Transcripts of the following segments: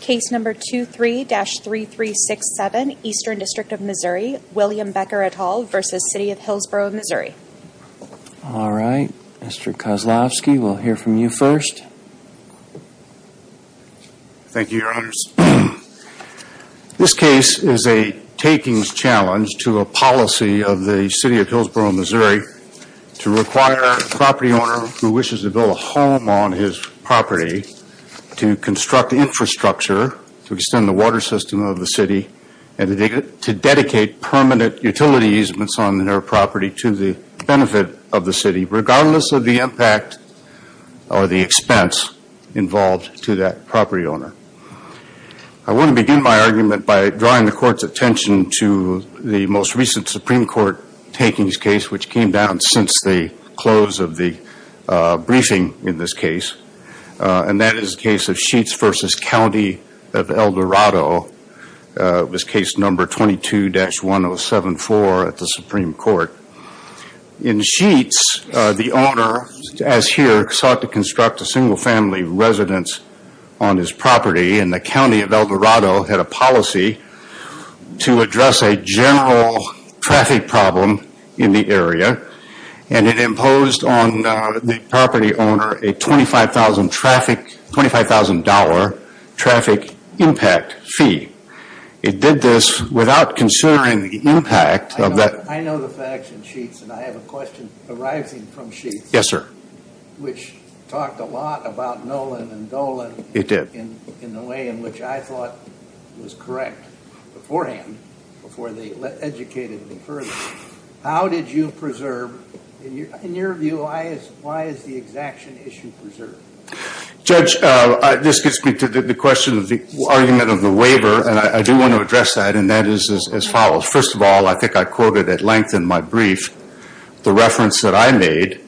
Case number 23-3367, Eastern District of Missouri, William Becker et al. v. City of Hillsboro, Missouri. Alright, Mr. Kozlowski, we'll hear from you first. Thank you, Your Honors. This case is a takings challenge to a policy of the City of Hillsboro, Missouri to require a property owner who wishes to build a home on his property to construct infrastructure to extend the water system of the city and to dedicate permanent utility easements on their property to the benefit of the city regardless of the impact or the expense involved to that property owner. I want to begin my argument by drawing the Court's attention to the most recent Supreme Court takings case which came down since the close of the briefing in this case. And that is the case of Sheets v. County of El Dorado. It was case number 22-1074 at the Supreme Court. In Sheets, the owner, as here, sought to construct a single family residence on his property and the County of El Dorado had a policy to address a general traffic problem in the area and it imposed on the property owner a $25,000 traffic impact fee. It did this without considering the impact of that. I know the facts in Sheets and I have a question arising from Sheets. Yes, sir. Which talked a lot about Nolan and Dolan. It did. In the way in which I thought was correct beforehand before they educated me further. How did you preserve, in your view, why is the exaction issue preserved? Judge, this gets me to the question of the argument of the waiver and I do want to address that and that is as follows. First of all, I think I quoted at length in my brief the reference that I made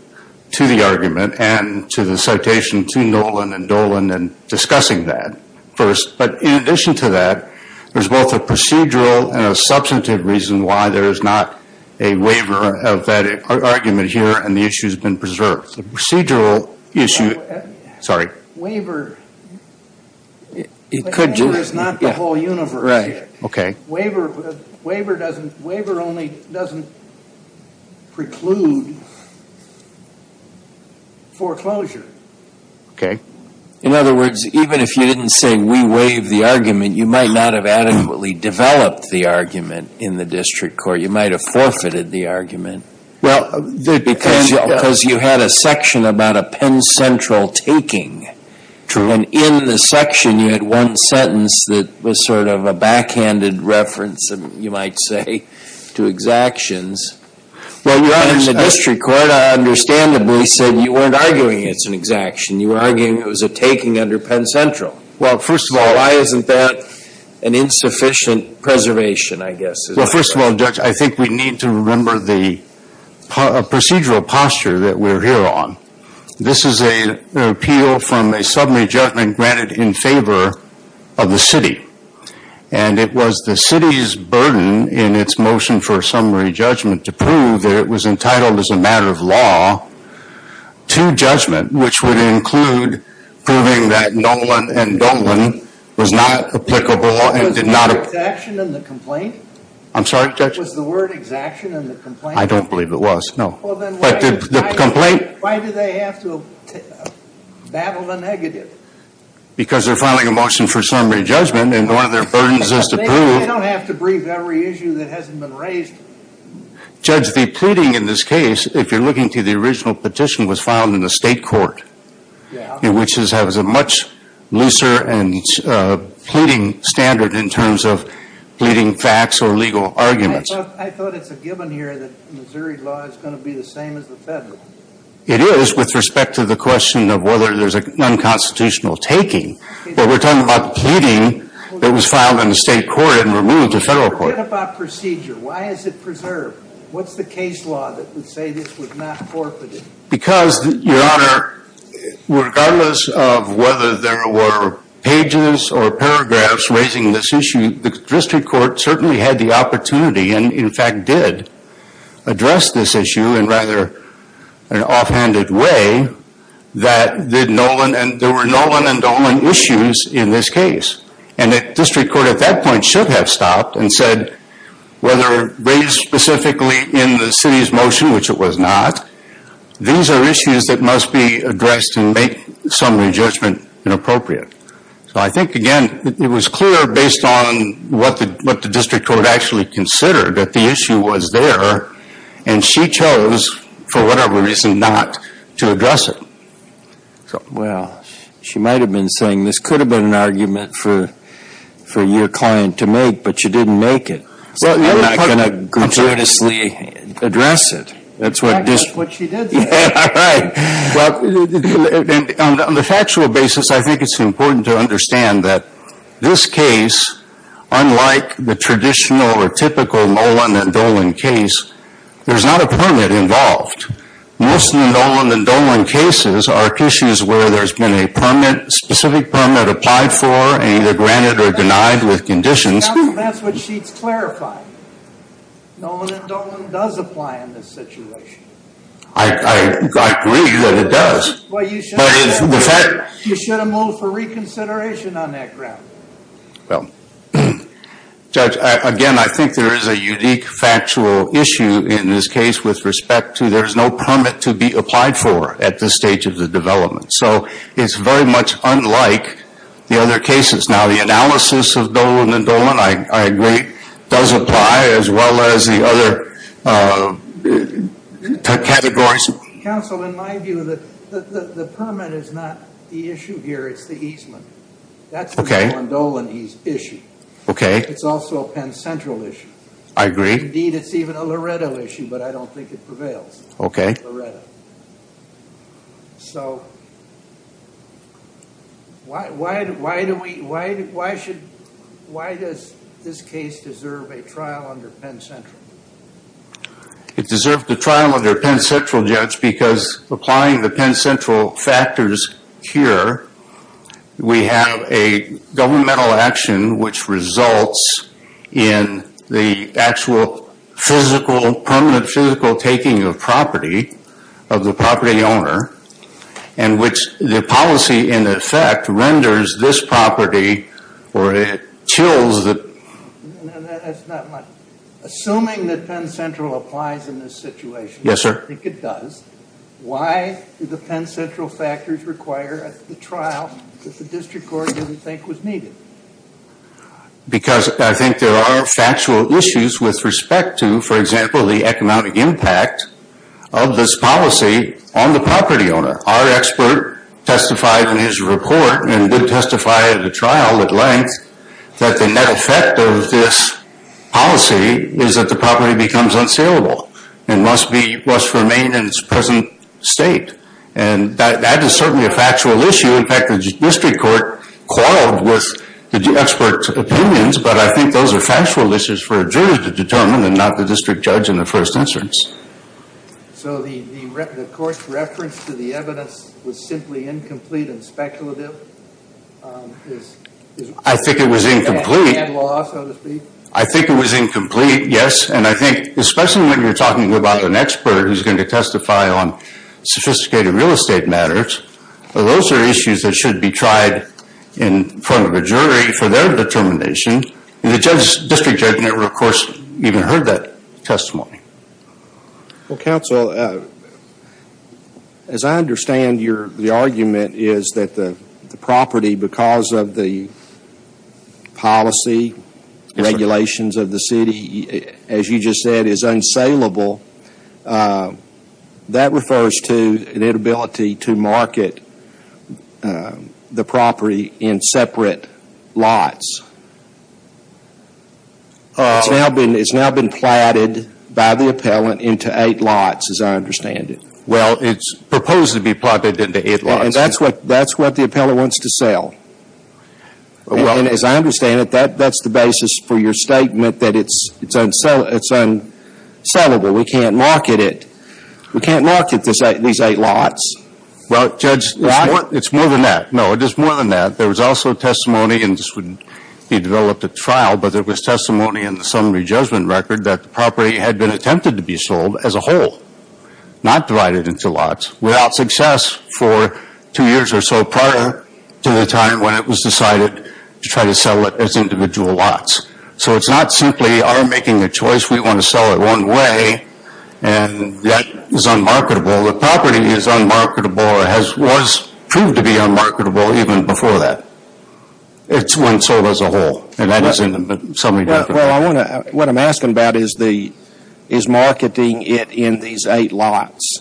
to the argument and to the citation to Nolan and Dolan and discussing that first. But in addition to that, there is both a procedural and a substantive reason why there is not a waiver of that argument here and the issue has been preserved. The procedural issue, sorry. Waiver, the waiver is not the whole universe here. Right, okay. Waiver only doesn't preclude foreclosure. Okay. In other words, even if you didn't say we waive the argument, you might not have adequately developed the argument in the district court. You might have forfeited the argument because you had a section about a Penn Central taking. True. And in the section, you had one sentence that was sort of a backhanded reference, you might say, to exactions. Well, you understand. In the district court, I understandably said you weren't arguing it's an exaction. You were arguing it was a taking under Penn Central. Well, first of all. Why isn't that an insufficient preservation, I guess? Well, first of all, Judge, I think we need to remember the procedural posture that we're here on. This is an appeal from a summary judgment granted in favor of the city. And it was the city's burden in its motion for a summary judgment to prove that it was entitled as a matter of law to judgment, which would include proving that Nolan and Dolan was not applicable and did not. Was the word exaction in the complaint? I'm sorry, Judge? Was the word exaction in the complaint? I don't believe it was, no. Why do they have to battle the negative? Because they're filing a motion for summary judgment, and one of their burdens is to prove. They don't have to brief every issue that hasn't been raised. Judge, the pleading in this case, if you're looking to the original petition, was filed in the state court, which has a much looser and pleading standard in terms of pleading facts or legal arguments. I thought it's a given here that Missouri law is going to be the same as the federal. It is with respect to the question of whether there's an unconstitutional taking. But we're talking about the pleading that was filed in the state court and removed to federal court. Forget about procedure. Why is it preserved? What's the case law that would say this was not forfeited? Because, Your Honor, regardless of whether there were pages or paragraphs raising this issue, the district court certainly had the opportunity and, in fact, did address this issue in rather an offhanded way that there were Nolan and Dolan issues in this case. And the district court at that point should have stopped and said, whether raised specifically in the city's motion, which it was not, these are issues that must be addressed and make summary judgment inappropriate. So I think, again, it was clear based on what the district court actually considered, that the issue was there and she chose, for whatever reason, not to address it. Well, she might have been saying this could have been an argument for your client to make, but she didn't make it. I'm not going to gratuitously address it. That's what she did say. Well, on the factual basis, I think it's important to understand that this case, unlike the traditional or typical Nolan and Dolan case, there's not a permit involved. Most Nolan and Dolan cases are issues where there's been a specific permit applied for and either granted or denied with conditions. That's what she's clarifying. Nolan and Dolan does apply in this situation. I agree that it does. You should have moved for reconsideration on that ground. Well, Judge, again, I think there is a unique factual issue in this case with respect to there's no permit to be applied for at this stage of the development. So it's very much unlike the other cases. Now, the analysis of Nolan and Dolan, I agree, does apply, as well as the other categories. Counsel, in my view, the permit is not the issue here. It's the easement. That's the Nolan-Dolan issue. Okay. It's also a Penn Central issue. I agree. Indeed, it's even a Loretto issue, but I don't think it prevails. Okay. Loretto. So why does this case deserve a trial under Penn Central? It deserves a trial under Penn Central, Judge, because applying the Penn Central factors here, we have a governmental action which results in the actual physical, permanent physical taking of property, of the property owner, in which the policy, in effect, renders this property, or it chills the… No, that's not my… Assuming that Penn Central applies in this situation… Yes, sir. I think it does. Why do the Penn Central factors require a trial that the district court didn't think was needed? Because I think there are factual issues with respect to, for example, the economic impact of this policy on the property owner. Our expert testified in his report and did testify at a trial at length that the net effect of this policy is that the property becomes unsealable and must remain in its present state. And that is certainly a factual issue. In fact, the district court quarreled with the expert's opinions, but I think those are factual issues for a jury to determine and not the district judge in the first instance. So the court's reference to the evidence was simply incomplete and speculative? I think it was incomplete. I think it was incomplete, yes. And I think especially when you're talking about an expert who's going to testify on sophisticated real estate matters, those are issues that should be tried in front of a jury for their determination. And the district judge never, of course, even heard that testimony. Well, counsel, as I understand the argument is that the property, because of the policy regulations of the city, as you just said, is unsealable. That refers to an inability to market the property in separate lots. It's now been platted by the appellant into eight lots, as I understand it. Well, it's proposed to be platted into eight lots. And that's what the appellant wants to sell. And as I understand it, that's the basis for your statement that it's unsealable. We can't market it. We can't market these eight lots. Well, Judge, it's more than that. No, it is more than that. There was also testimony, and this would be developed at trial, but there was testimony in the summary judgment record that the property had been attempted to be sold as a whole, not divided into lots, without success for two years or so prior to the time when it was decided to try to sell it as individual lots. So it's not simply our making a choice. We want to sell it one way, and that is unmarketable. The property is unmarketable or was proved to be unmarketable even before that. It's when sold as a whole, and that is in the summary judgment record. Well, what I'm asking about is marketing it in these eight lots.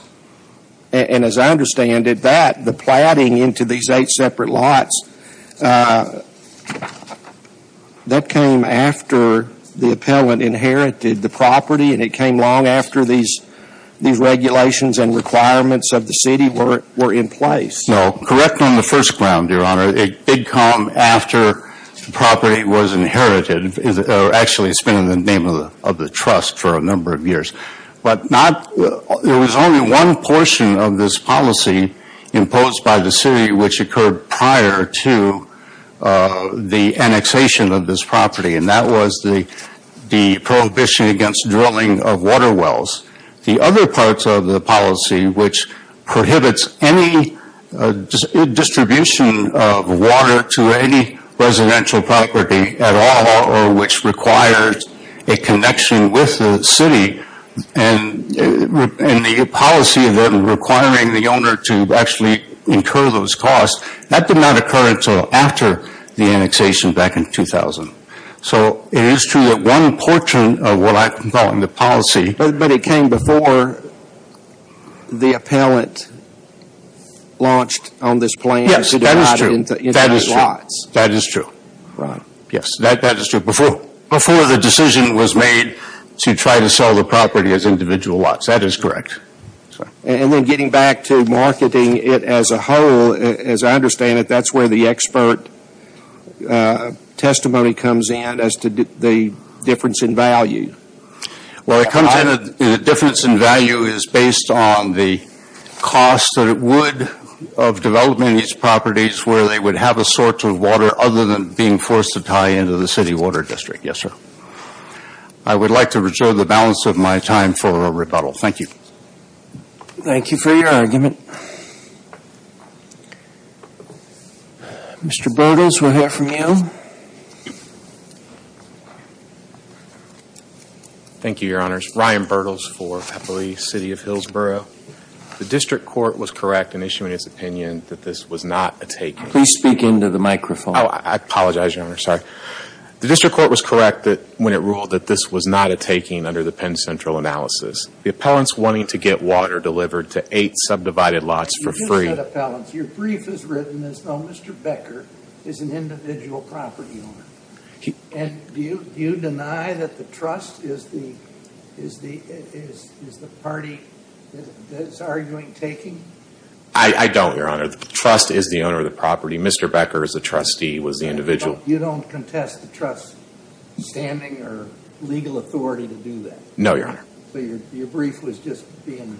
And as I understand it, that, the platting into these eight separate lots, that came after the appellant inherited the property, and it came long after these regulations and requirements of the city were in place. No, correct on the first ground, Your Honor. It did come after the property was inherited. Actually, it's been in the name of the trust for a number of years. But not, there was only one portion of this policy imposed by the city, which occurred prior to the annexation of this property, and that was the prohibition against drilling of water wells. The other parts of the policy, which prohibits any distribution of water to any residential property at all, or which requires a connection with the city, and the policy requiring the owner to actually incur those costs, that did not occur until after the annexation back in 2000. So it is true that one portion of what I'm calling the policy, But it came before the appellant launched on this plan. Yes, that is true. To divide it into individual lots. That is true. Right. Yes, that is true. Before the decision was made to try to sell the property as individual lots. That is correct. And then getting back to marketing it as a whole, as I understand it, that's where the expert testimony comes in as to the difference in value. Well, the difference in value is based on the cost that it would of developing these properties where they would have a source of water other than being forced to tie into the city water district. Yes, sir. I would like to restore the balance of my time for a rebuttal. Thank you. Thank you for your argument. Mr. Bertels, we'll hear from you. Thank you, Your Honors. Ryan Bertels for Pepperly City of Hillsborough. The district court was correct in issuing its opinion that this was not a taking. Please speak into the microphone. Oh, I apologize, Your Honor. Sorry. The district court was correct when it ruled that this was not a taking under the Penn Central analysis. The appellants wanting to get water delivered to eight subdivided lots for free. You did say appellants. Your brief is written as though Mr. Becker is an individual property owner. And do you deny that the trust is the party that is arguing taking? I don't, Your Honor. The trust is the owner of the property. Mr. Becker is the trustee, was the individual. You don't contest the trust's standing or legal authority to do that? No, Your Honor. So your brief was just being,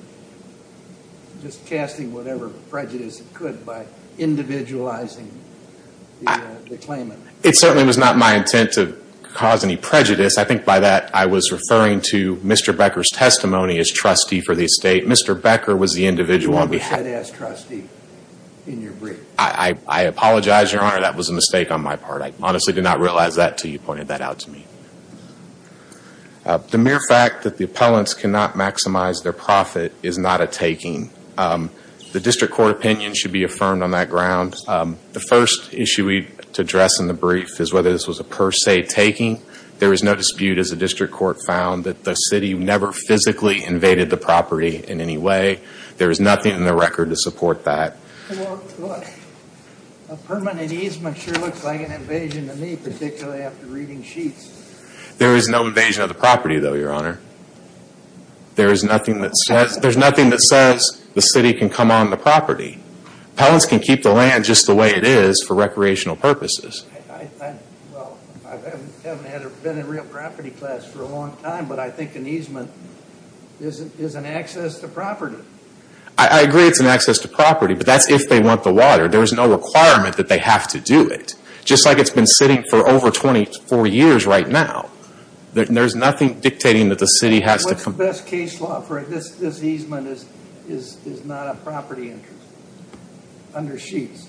just casting whatever prejudice it could by individualizing the claimant. It certainly was not my intent to cause any prejudice. I think by that I was referring to Mr. Becker's testimony as trustee for the estate. Mr. Becker was the individual on behalf. You were a fed-ass trustee in your brief. I apologize, Your Honor. That was a mistake on my part. I honestly did not realize that until you pointed that out to me. The mere fact that the appellants cannot maximize their profit is not a taking. The district court opinion should be affirmed on that ground. The first issue we need to address in the brief is whether this was a per se taking. There is no dispute as the district court found that the city never physically invaded the property in any way. There is nothing in the record to support that. A permanent easement sure looks like an invasion to me, particularly after reading sheets. There is no invasion of the property, though, Your Honor. There is nothing that says the city can come on the property. Appellants can keep the land just the way it is for recreational purposes. I haven't been in a real property class for a long time, but I think an easement is an access to property. I agree it is an access to property, but that is if they want the water. There is no requirement that they have to do it. Just like it has been sitting for over 24 years right now. There is nothing dictating that the city has to come. What is the best case law for it? This easement is not a property interest under sheets.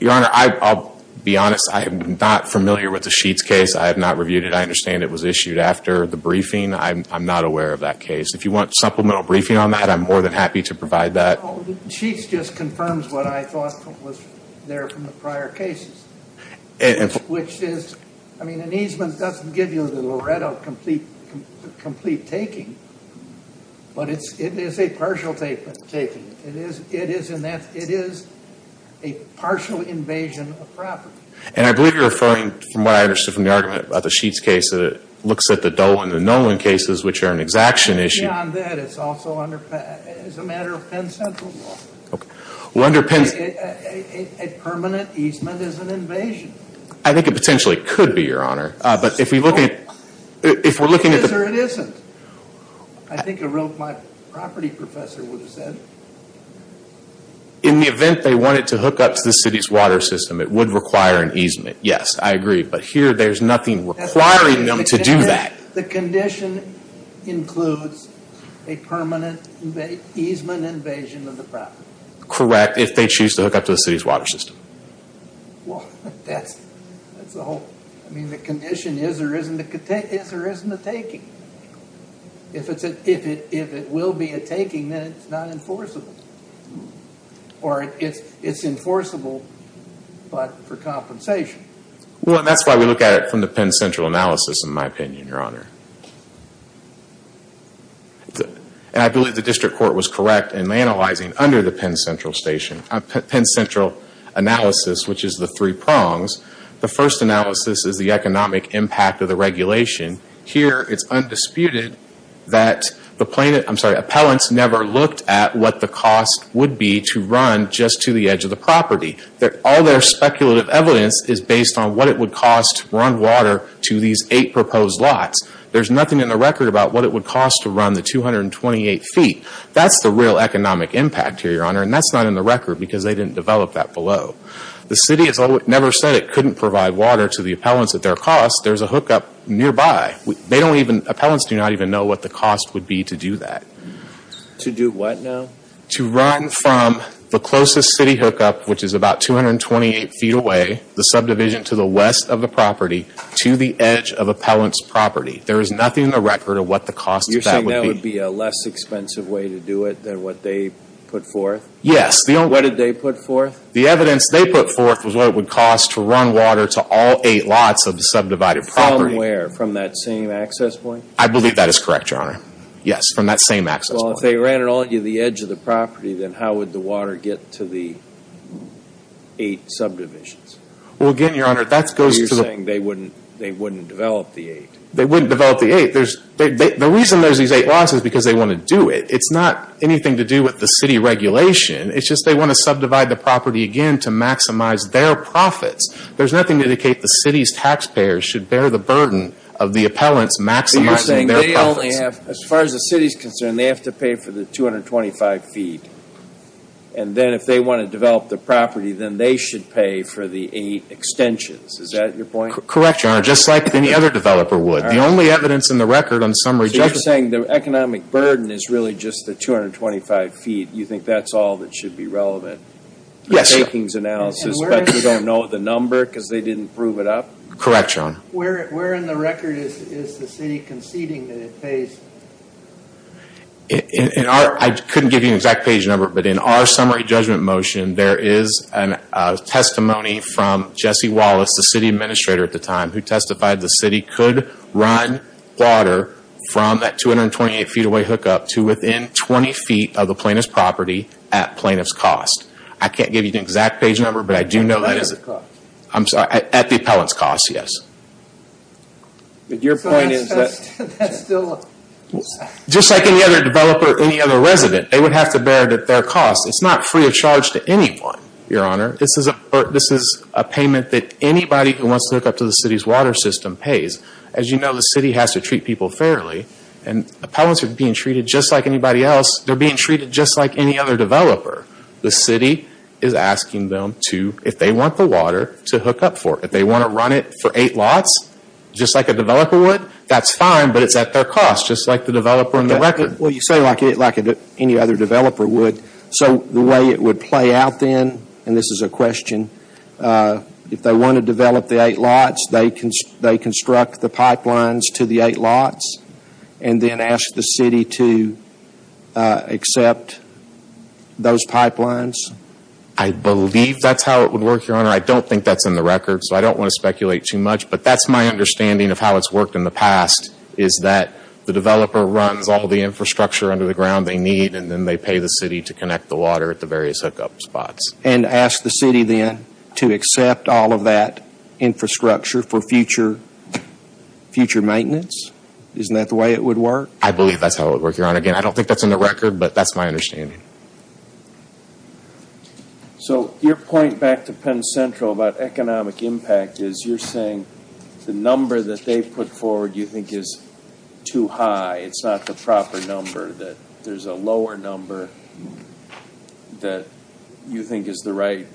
Your Honor, I will be honest. I am not familiar with the sheets case. I have not reviewed it. I understand it was issued after the briefing. I am not aware of that case. If you want supplemental briefing on that, I am more than happy to provide that. The sheets just confirms what I thought was there from the prior cases. An easement does not give you the Loretto complete taking, but it is a partial taking. It is a partial invasion of property. I believe you are referring, from what I understood from the argument about the sheets case, that it looks at the Dolan and Nolan cases, which are an exaction issue. Beyond that, it is a matter of Penn Central law. A permanent easement is an invasion. I think it potentially could be, Your Honor. It is or it isn't. I think a real property professor would have said. In the event they wanted to hook up to the city's water system, it would require an easement. Yes, I agree. Here, there is nothing requiring them to do that. The condition includes a permanent easement invasion of the property. Correct, if they choose to hook up to the city's water system. The condition is or isn't a taking. If it will be a taking, then it is not enforceable. It is enforceable, but for compensation. That is why we look at it from the Penn Central analysis, in my opinion, Your Honor. I believe the district court was correct in analyzing under the Penn Central analysis, which is the three prongs. The first analysis is the economic impact of the regulation. Here, it is undisputed that appellants never looked at what the cost would be to run just to the edge of the property. All their speculative evidence is based on what it would cost to run water to these eight proposed lots. There is nothing in the record about what it would cost to run the 228 feet. That is the real economic impact here, Your Honor, and that is not in the record because they didn't develop that below. The city never said it couldn't provide water to the appellants at their cost. There is a hookup nearby. Appellants do not even know what the cost would be to do that. To do what now? To run from the closest city hookup, which is about 228 feet away, the subdivision to the west of the property, to the edge of appellant's property. There is nothing in the record of what the cost of that would be. You are saying that would be a less expensive way to do it than what they put forth? Yes. What did they put forth? The evidence they put forth was what it would cost to run water to all eight lots of the subdivided property. From where? From that same access point? I believe that is correct, Your Honor. Yes, from that same access point. Well, if they ran it all to the edge of the property, then how would the water get to the eight subdivisions? Well, again, Your Honor, that goes to the... You are saying they wouldn't develop the eight. They wouldn't develop the eight. The reason there are these eight lots is because they want to do it. It is not anything to do with the city regulation. It is just they want to subdivide the property again to maximize their profits. There is nothing to indicate the city's taxpayers should bear the burden of the appellants maximizing their profits. So you are saying they only have, as far as the city is concerned, they have to pay for the 225 feet. And then if they want to develop the property, then they should pay for the eight extensions. Is that your point? Correct, Your Honor, just like any other developer would. The only evidence in the record on some rejection... that should be relevant. Yes, Your Honor. The takings analysis, but you don't know the number because they didn't prove it up? Correct, Your Honor. Where in the record is the city conceding that it pays? I couldn't give you an exact page number, but in our summary judgment motion, there is a testimony from Jesse Wallace, the city administrator at the time, who testified the city could run water from that 228 feet away hookup to within 20 feet of the plaintiff's property at plaintiff's cost. I can't give you the exact page number, but I do know that is... At the appellant's cost. I'm sorry, at the appellant's cost, yes. But your point is that... Just like any other developer, any other resident, they would have to bear their costs. It's not free of charge to anyone, Your Honor. This is a payment that anybody who wants to hook up to the city's water system pays. As you know, the city has to treat people fairly. And appellants are being treated just like anybody else. They're being treated just like any other developer. The city is asking them to, if they want the water, to hook up for it. If they want to run it for eight lots, just like a developer would, that's fine, but it's at their cost, just like the developer in the record. Well, you say like any other developer would. So the way it would play out then, and this is a question, if they want to develop the eight lots, they construct the pipelines to the eight lots and then ask the city to accept those pipelines? I believe that's how it would work, Your Honor. I don't think that's in the record, so I don't want to speculate too much. But that's my understanding of how it's worked in the past, is that the developer runs all the infrastructure under the ground they need and then they pay the city to connect the water at the various hookup spots. And ask the city then to accept all of that infrastructure for future maintenance? Isn't that the way it would work? I believe that's how it would work, Your Honor. Again, I don't think that's in the record, but that's my understanding. So your point back to Penn Central about economic impact is you're saying the number that they put forward you think is too high. It's not the proper number. There's a lower number that you think is the right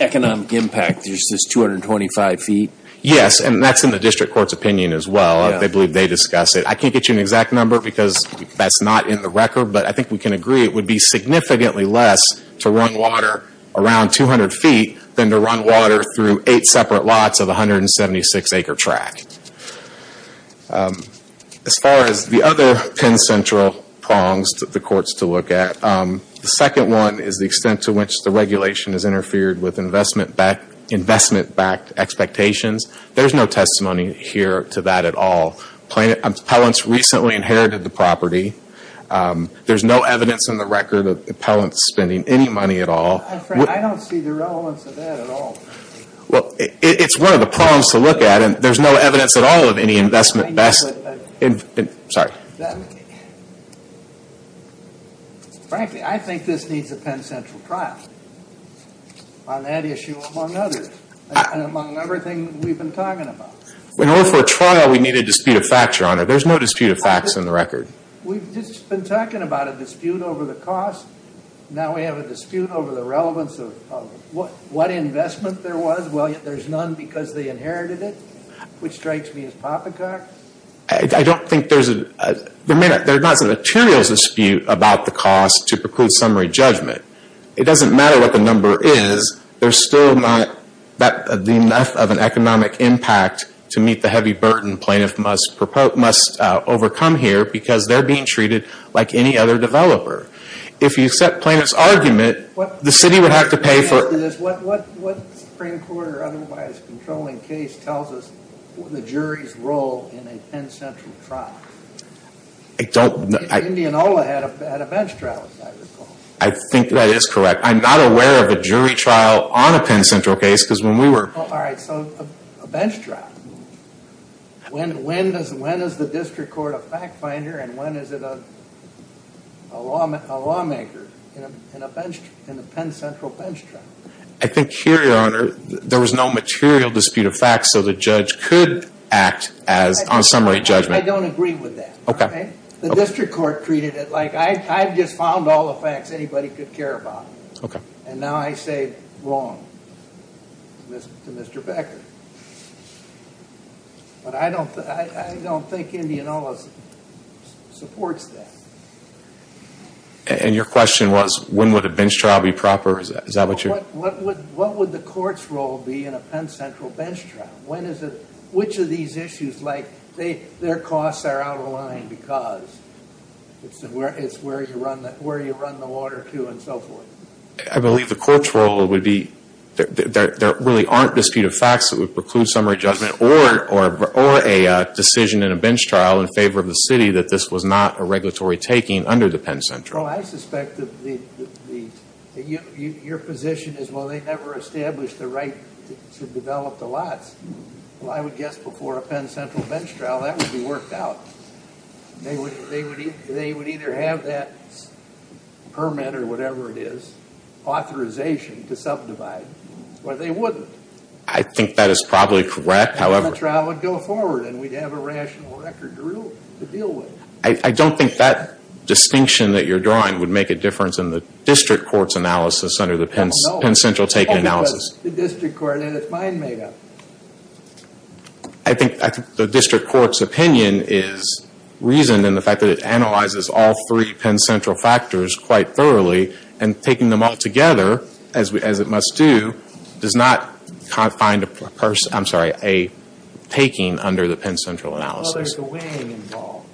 economic impact. There's this 225 feet. Yes, and that's in the district court's opinion as well. I believe they discuss it. I can't get you an exact number because that's not in the record, but I think we can agree it would be significantly less to run water around 200 feet than to run water through eight separate lots of a 176-acre track. As far as the other Penn Central prongs for the courts to look at, the second one is the extent to which the regulation has interfered with investment-backed expectations. There's no testimony here to that at all. Appellants recently inherited the property. There's no evidence in the record of appellants spending any money at all. I don't see the relevance of that at all. Well, it's one of the prongs to look at, and there's no evidence at all of any investment-backed. Sorry. Frankly, I think this needs a Penn Central trial on that issue among others and among everything we've been talking about. In order for a trial, we need a dispute of facts, Your Honor. There's no dispute of facts in the record. We've just been talking about a dispute over the cost. Now we have a dispute over the relevance of what investment there was. Well, there's none because they inherited it, which strikes me as poppycock. I don't think there's a – there's not a material dispute about the cost to preclude summary judgment. It doesn't matter what the number is. There's still not enough of an economic impact to meet the heavy burden plaintiff must overcome here because they're being treated like any other developer. If you accept plaintiff's argument, the city would have to pay for – What Supreme Court or otherwise controlling case tells us the jury's role in a Penn Central trial? I don't – Indianola had a bench trial, as I recall. I think that is correct. I'm not aware of a jury trial on a Penn Central case because when we were – All right, so a bench trial. When is the district court a fact finder and when is it a lawmaker in a Penn Central bench trial? I think here, Your Honor, there was no material dispute of facts so the judge could act on summary judgment. I don't agree with that. Okay. The district court treated it like I've just found all the facts anybody could care about. Okay. And now I say wrong to Mr. Becker. But I don't think Indianola supports that. And your question was when would a bench trial be proper? Is that what you're – What would the court's role be in a Penn Central bench trial? When is it – Which of these issues like their costs are out of line because it's where you run the water to and so forth? I believe the court's role would be there really aren't disputed facts that would preclude summary judgment or a decision in a bench trial in favor of the city that this was not a regulatory taking under the Penn Central. Well, I suspect that your position is, well, they never established the right to develop the lots. Well, I would guess before a Penn Central bench trial that would be worked out. They would either have that permit or whatever it is, authorization to subdivide, or they wouldn't. I think that is probably correct, however – And then the trial would go forward and we'd have a rational record to deal with. I don't think that distinction that you're drawing would make a difference in the district court's analysis under the Penn Central taking analysis. The district court had its mind made up. I think the district court's opinion is reasoned in the fact that it analyzes all three Penn Central factors quite thoroughly and taking them all together, as it must do, does not find a person – I'm sorry, a taking under the Penn Central analysis. Well, there's a weighing involved.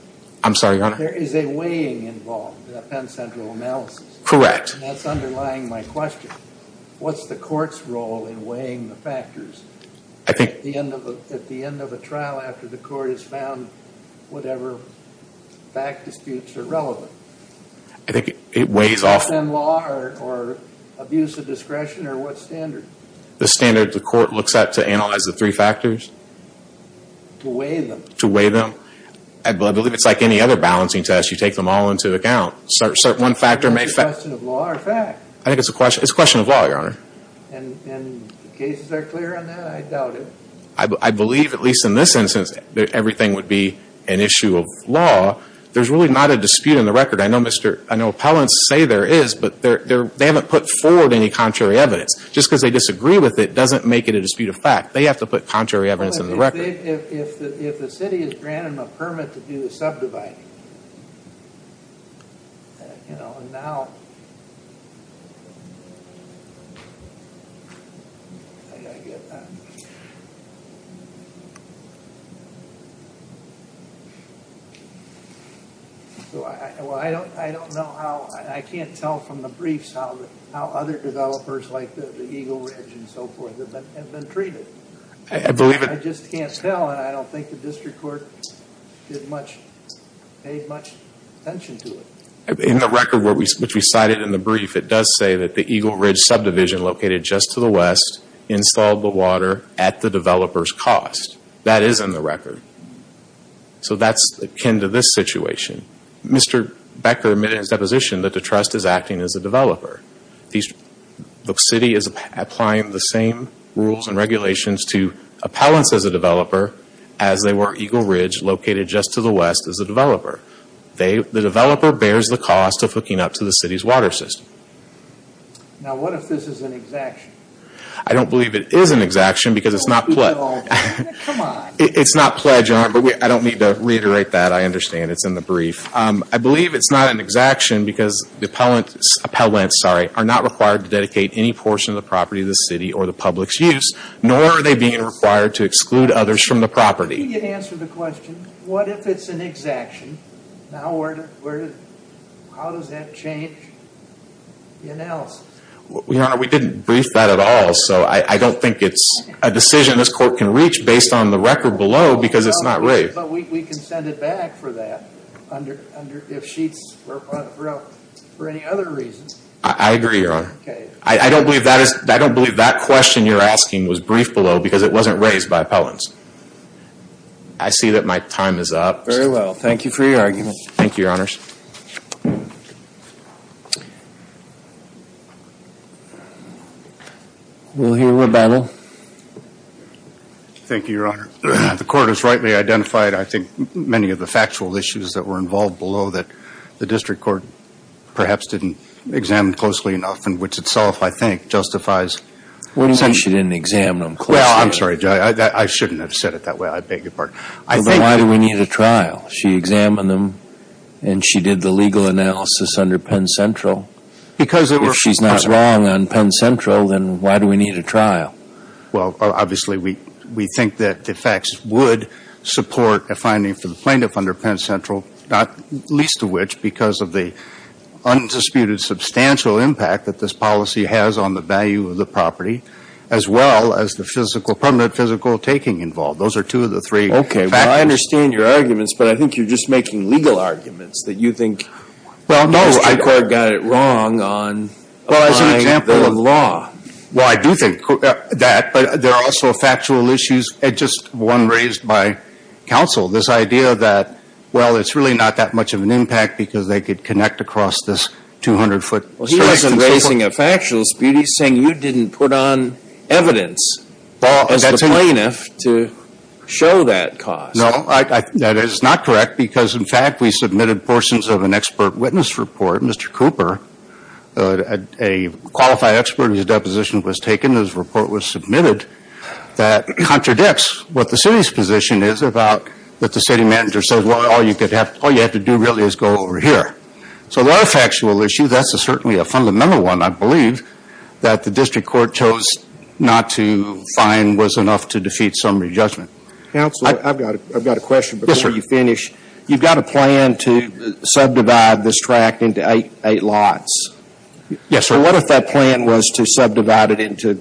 I'm sorry, Your Honor? There is a weighing involved in a Penn Central analysis. Correct. That's underlying my question. What's the court's role in weighing the factors? I think – At the end of a trial after the court has found whatever fact disputes are relevant. I think it weighs off – In law or abuse of discretion or what standard? The standard the court looks at to analyze the three factors. To weigh them. To weigh them. I believe it's like any other balancing test. You take them all into account. One factor may – Is it a question of law or fact? I think it's a question of law, Your Honor. And the cases are clear on that? I doubt it. I believe, at least in this instance, that everything would be an issue of law. There's really not a dispute in the record. I know Mr. – I know appellants say there is, but they haven't put forward any contrary evidence. Just because they disagree with it doesn't make it a dispute of fact. They have to put contrary evidence in the record. If the city has granted them a permit to do the subdividing, and now – I don't know how – I can't tell from the briefs how other developers like the Eagle Ridge and so forth have been treated. I just can't tell, and I don't think the district court paid much attention to it. In the record which we cited in the brief, it does say that the Eagle Ridge subdivision located just to the west installed the water at the developer's cost. That is in the record. So that's akin to this situation. Mr. Becker made his deposition that the trust is acting as a developer. The city is applying the same rules and regulations to appellants as a developer as they were Eagle Ridge located just to the west as a developer. The developer bears the cost of hooking up to the city's water system. Now what if this is an exaction? I don't believe it is an exaction because it's not – Don't be involved. Come on. It's not pledge, but I don't need to reiterate that. I understand it's in the brief. I believe it's not an exaction because the appellants are not required to dedicate any portion of the property to the city or the public's use, nor are they being required to exclude others from the property. Can you answer the question, what if it's an exaction? How does that change the announcement? Your Honor, we didn't brief that at all, so I don't think it's a decision this court can reach based on the record below because it's not raised. But we can send it back for that if sheets were brought for any other reason. I agree, Your Honor. I don't believe that question you're asking was briefed below because it wasn't raised by appellants. I see that my time is up. Very well. Thank you for your argument. Thank you, Your Honors. We'll hear rebuttal. Thank you, Your Honor. The court has rightly identified, I think, many of the factual issues that were involved below that the district court perhaps didn't examine closely enough and which itself, I think, justifies. What do you mean she didn't examine them closely? Well, I'm sorry, Judge. I shouldn't have said it that way. I beg your pardon. But why do we need a trial? She examined them and she did the legal analysis under Penn Central. If she's not wrong on Penn Central, then why do we need a trial? Well, obviously, we think that the facts would support a finding for the plaintiff under Penn Central, not least of which because of the undisputed substantial impact that this policy has on the value of the property as well as the permanent physical taking involved. Those are two of the three factors. Okay. Well, I understand your arguments, but I think you're just making legal arguments that you think the district court got it wrong on applying the law. Well, I do think that, but there are also factual issues and just one raised by counsel, this idea that, well, it's really not that much of an impact because they could connect across this 200-foot stretch. Well, he wasn't raising a factual dispute. He's saying you didn't put on evidence as the plaintiff to show that cause. No, that is not correct because, in fact, we submitted portions of an expert witness report, Mr. Cooper, a qualified expert whose deposition was taken. This report was submitted that contradicts what the city's position is about that the city manager says, well, all you have to do really is go over here. So there are factual issues. That's certainly a fundamental one, I believe, that the district court chose not to find was enough to defeat summary judgment. Counselor, I've got a question before you finish. Yes, sir. You've got a plan to subdivide this tract into eight lots. Yes, sir. What if that plan was to subdivide it into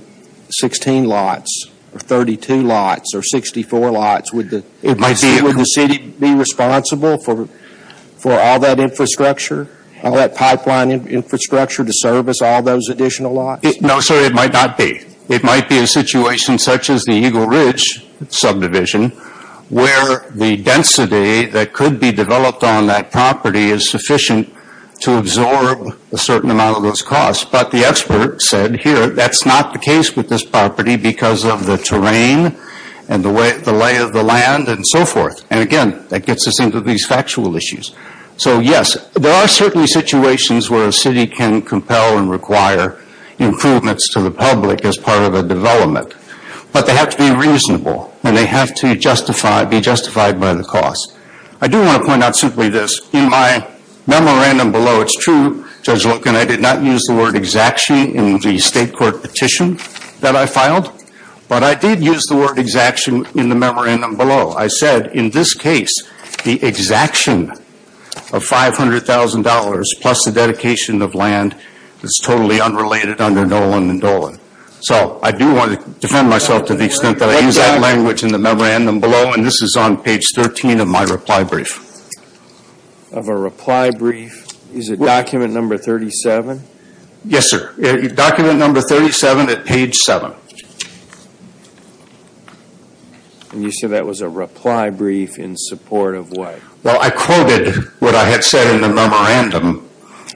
16 lots or 32 lots or 64 lots? Would the city be responsible for all that infrastructure, all that pipeline infrastructure to service all those additional lots? No, sir, it might not be. It might be a situation such as the Eagle Ridge subdivision where the density that could be developed on that property is sufficient to absorb a certain amount of those costs. But the expert said here that's not the case with this property because of the terrain and the lay of the land and so forth. And, again, that gets us into these factual issues. So, yes, there are certainly situations where a city can compel and require improvements to the public as part of a development. But they have to be reasonable and they have to be justified by the cost. I do want to point out simply this. In my memorandum below, it's true, Judge Loken, I did not use the word exaction in the state court petition that I filed. But I did use the word exaction in the memorandum below. I said, in this case, the exaction of $500,000 plus the dedication of land is totally unrelated under Nolan and Dolan. So I do want to defend myself to the extent that I used that language in the memorandum below. And this is on page 13 of my reply brief. Of a reply brief? Is it document number 37? Yes, sir. Document number 37 at page 7. And you said that was a reply brief in support of what? Well, I quoted what I had said in the memorandum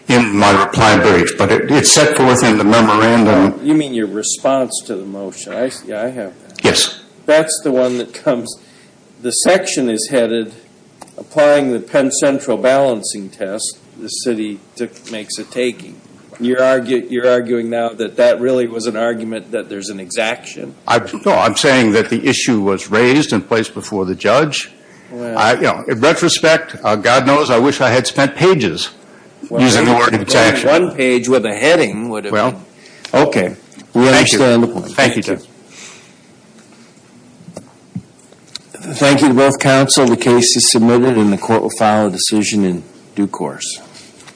in my reply brief. But it's set forth in the memorandum. You mean your response to the motion. I see. I have that. Yes. That's the one that comes. The section is headed applying the Penn Central balancing test the city makes a taking. You're arguing now that that really was an argument that there's an exaction? No, I'm saying that the issue was raised and placed before the judge. In retrospect, God knows, I wish I had spent pages using the word exaction. One page with a heading would have been. Okay. We understand the point. Thank you, Judge. Thank you to both counsel. The case is submitted and the court will file a decision in due course.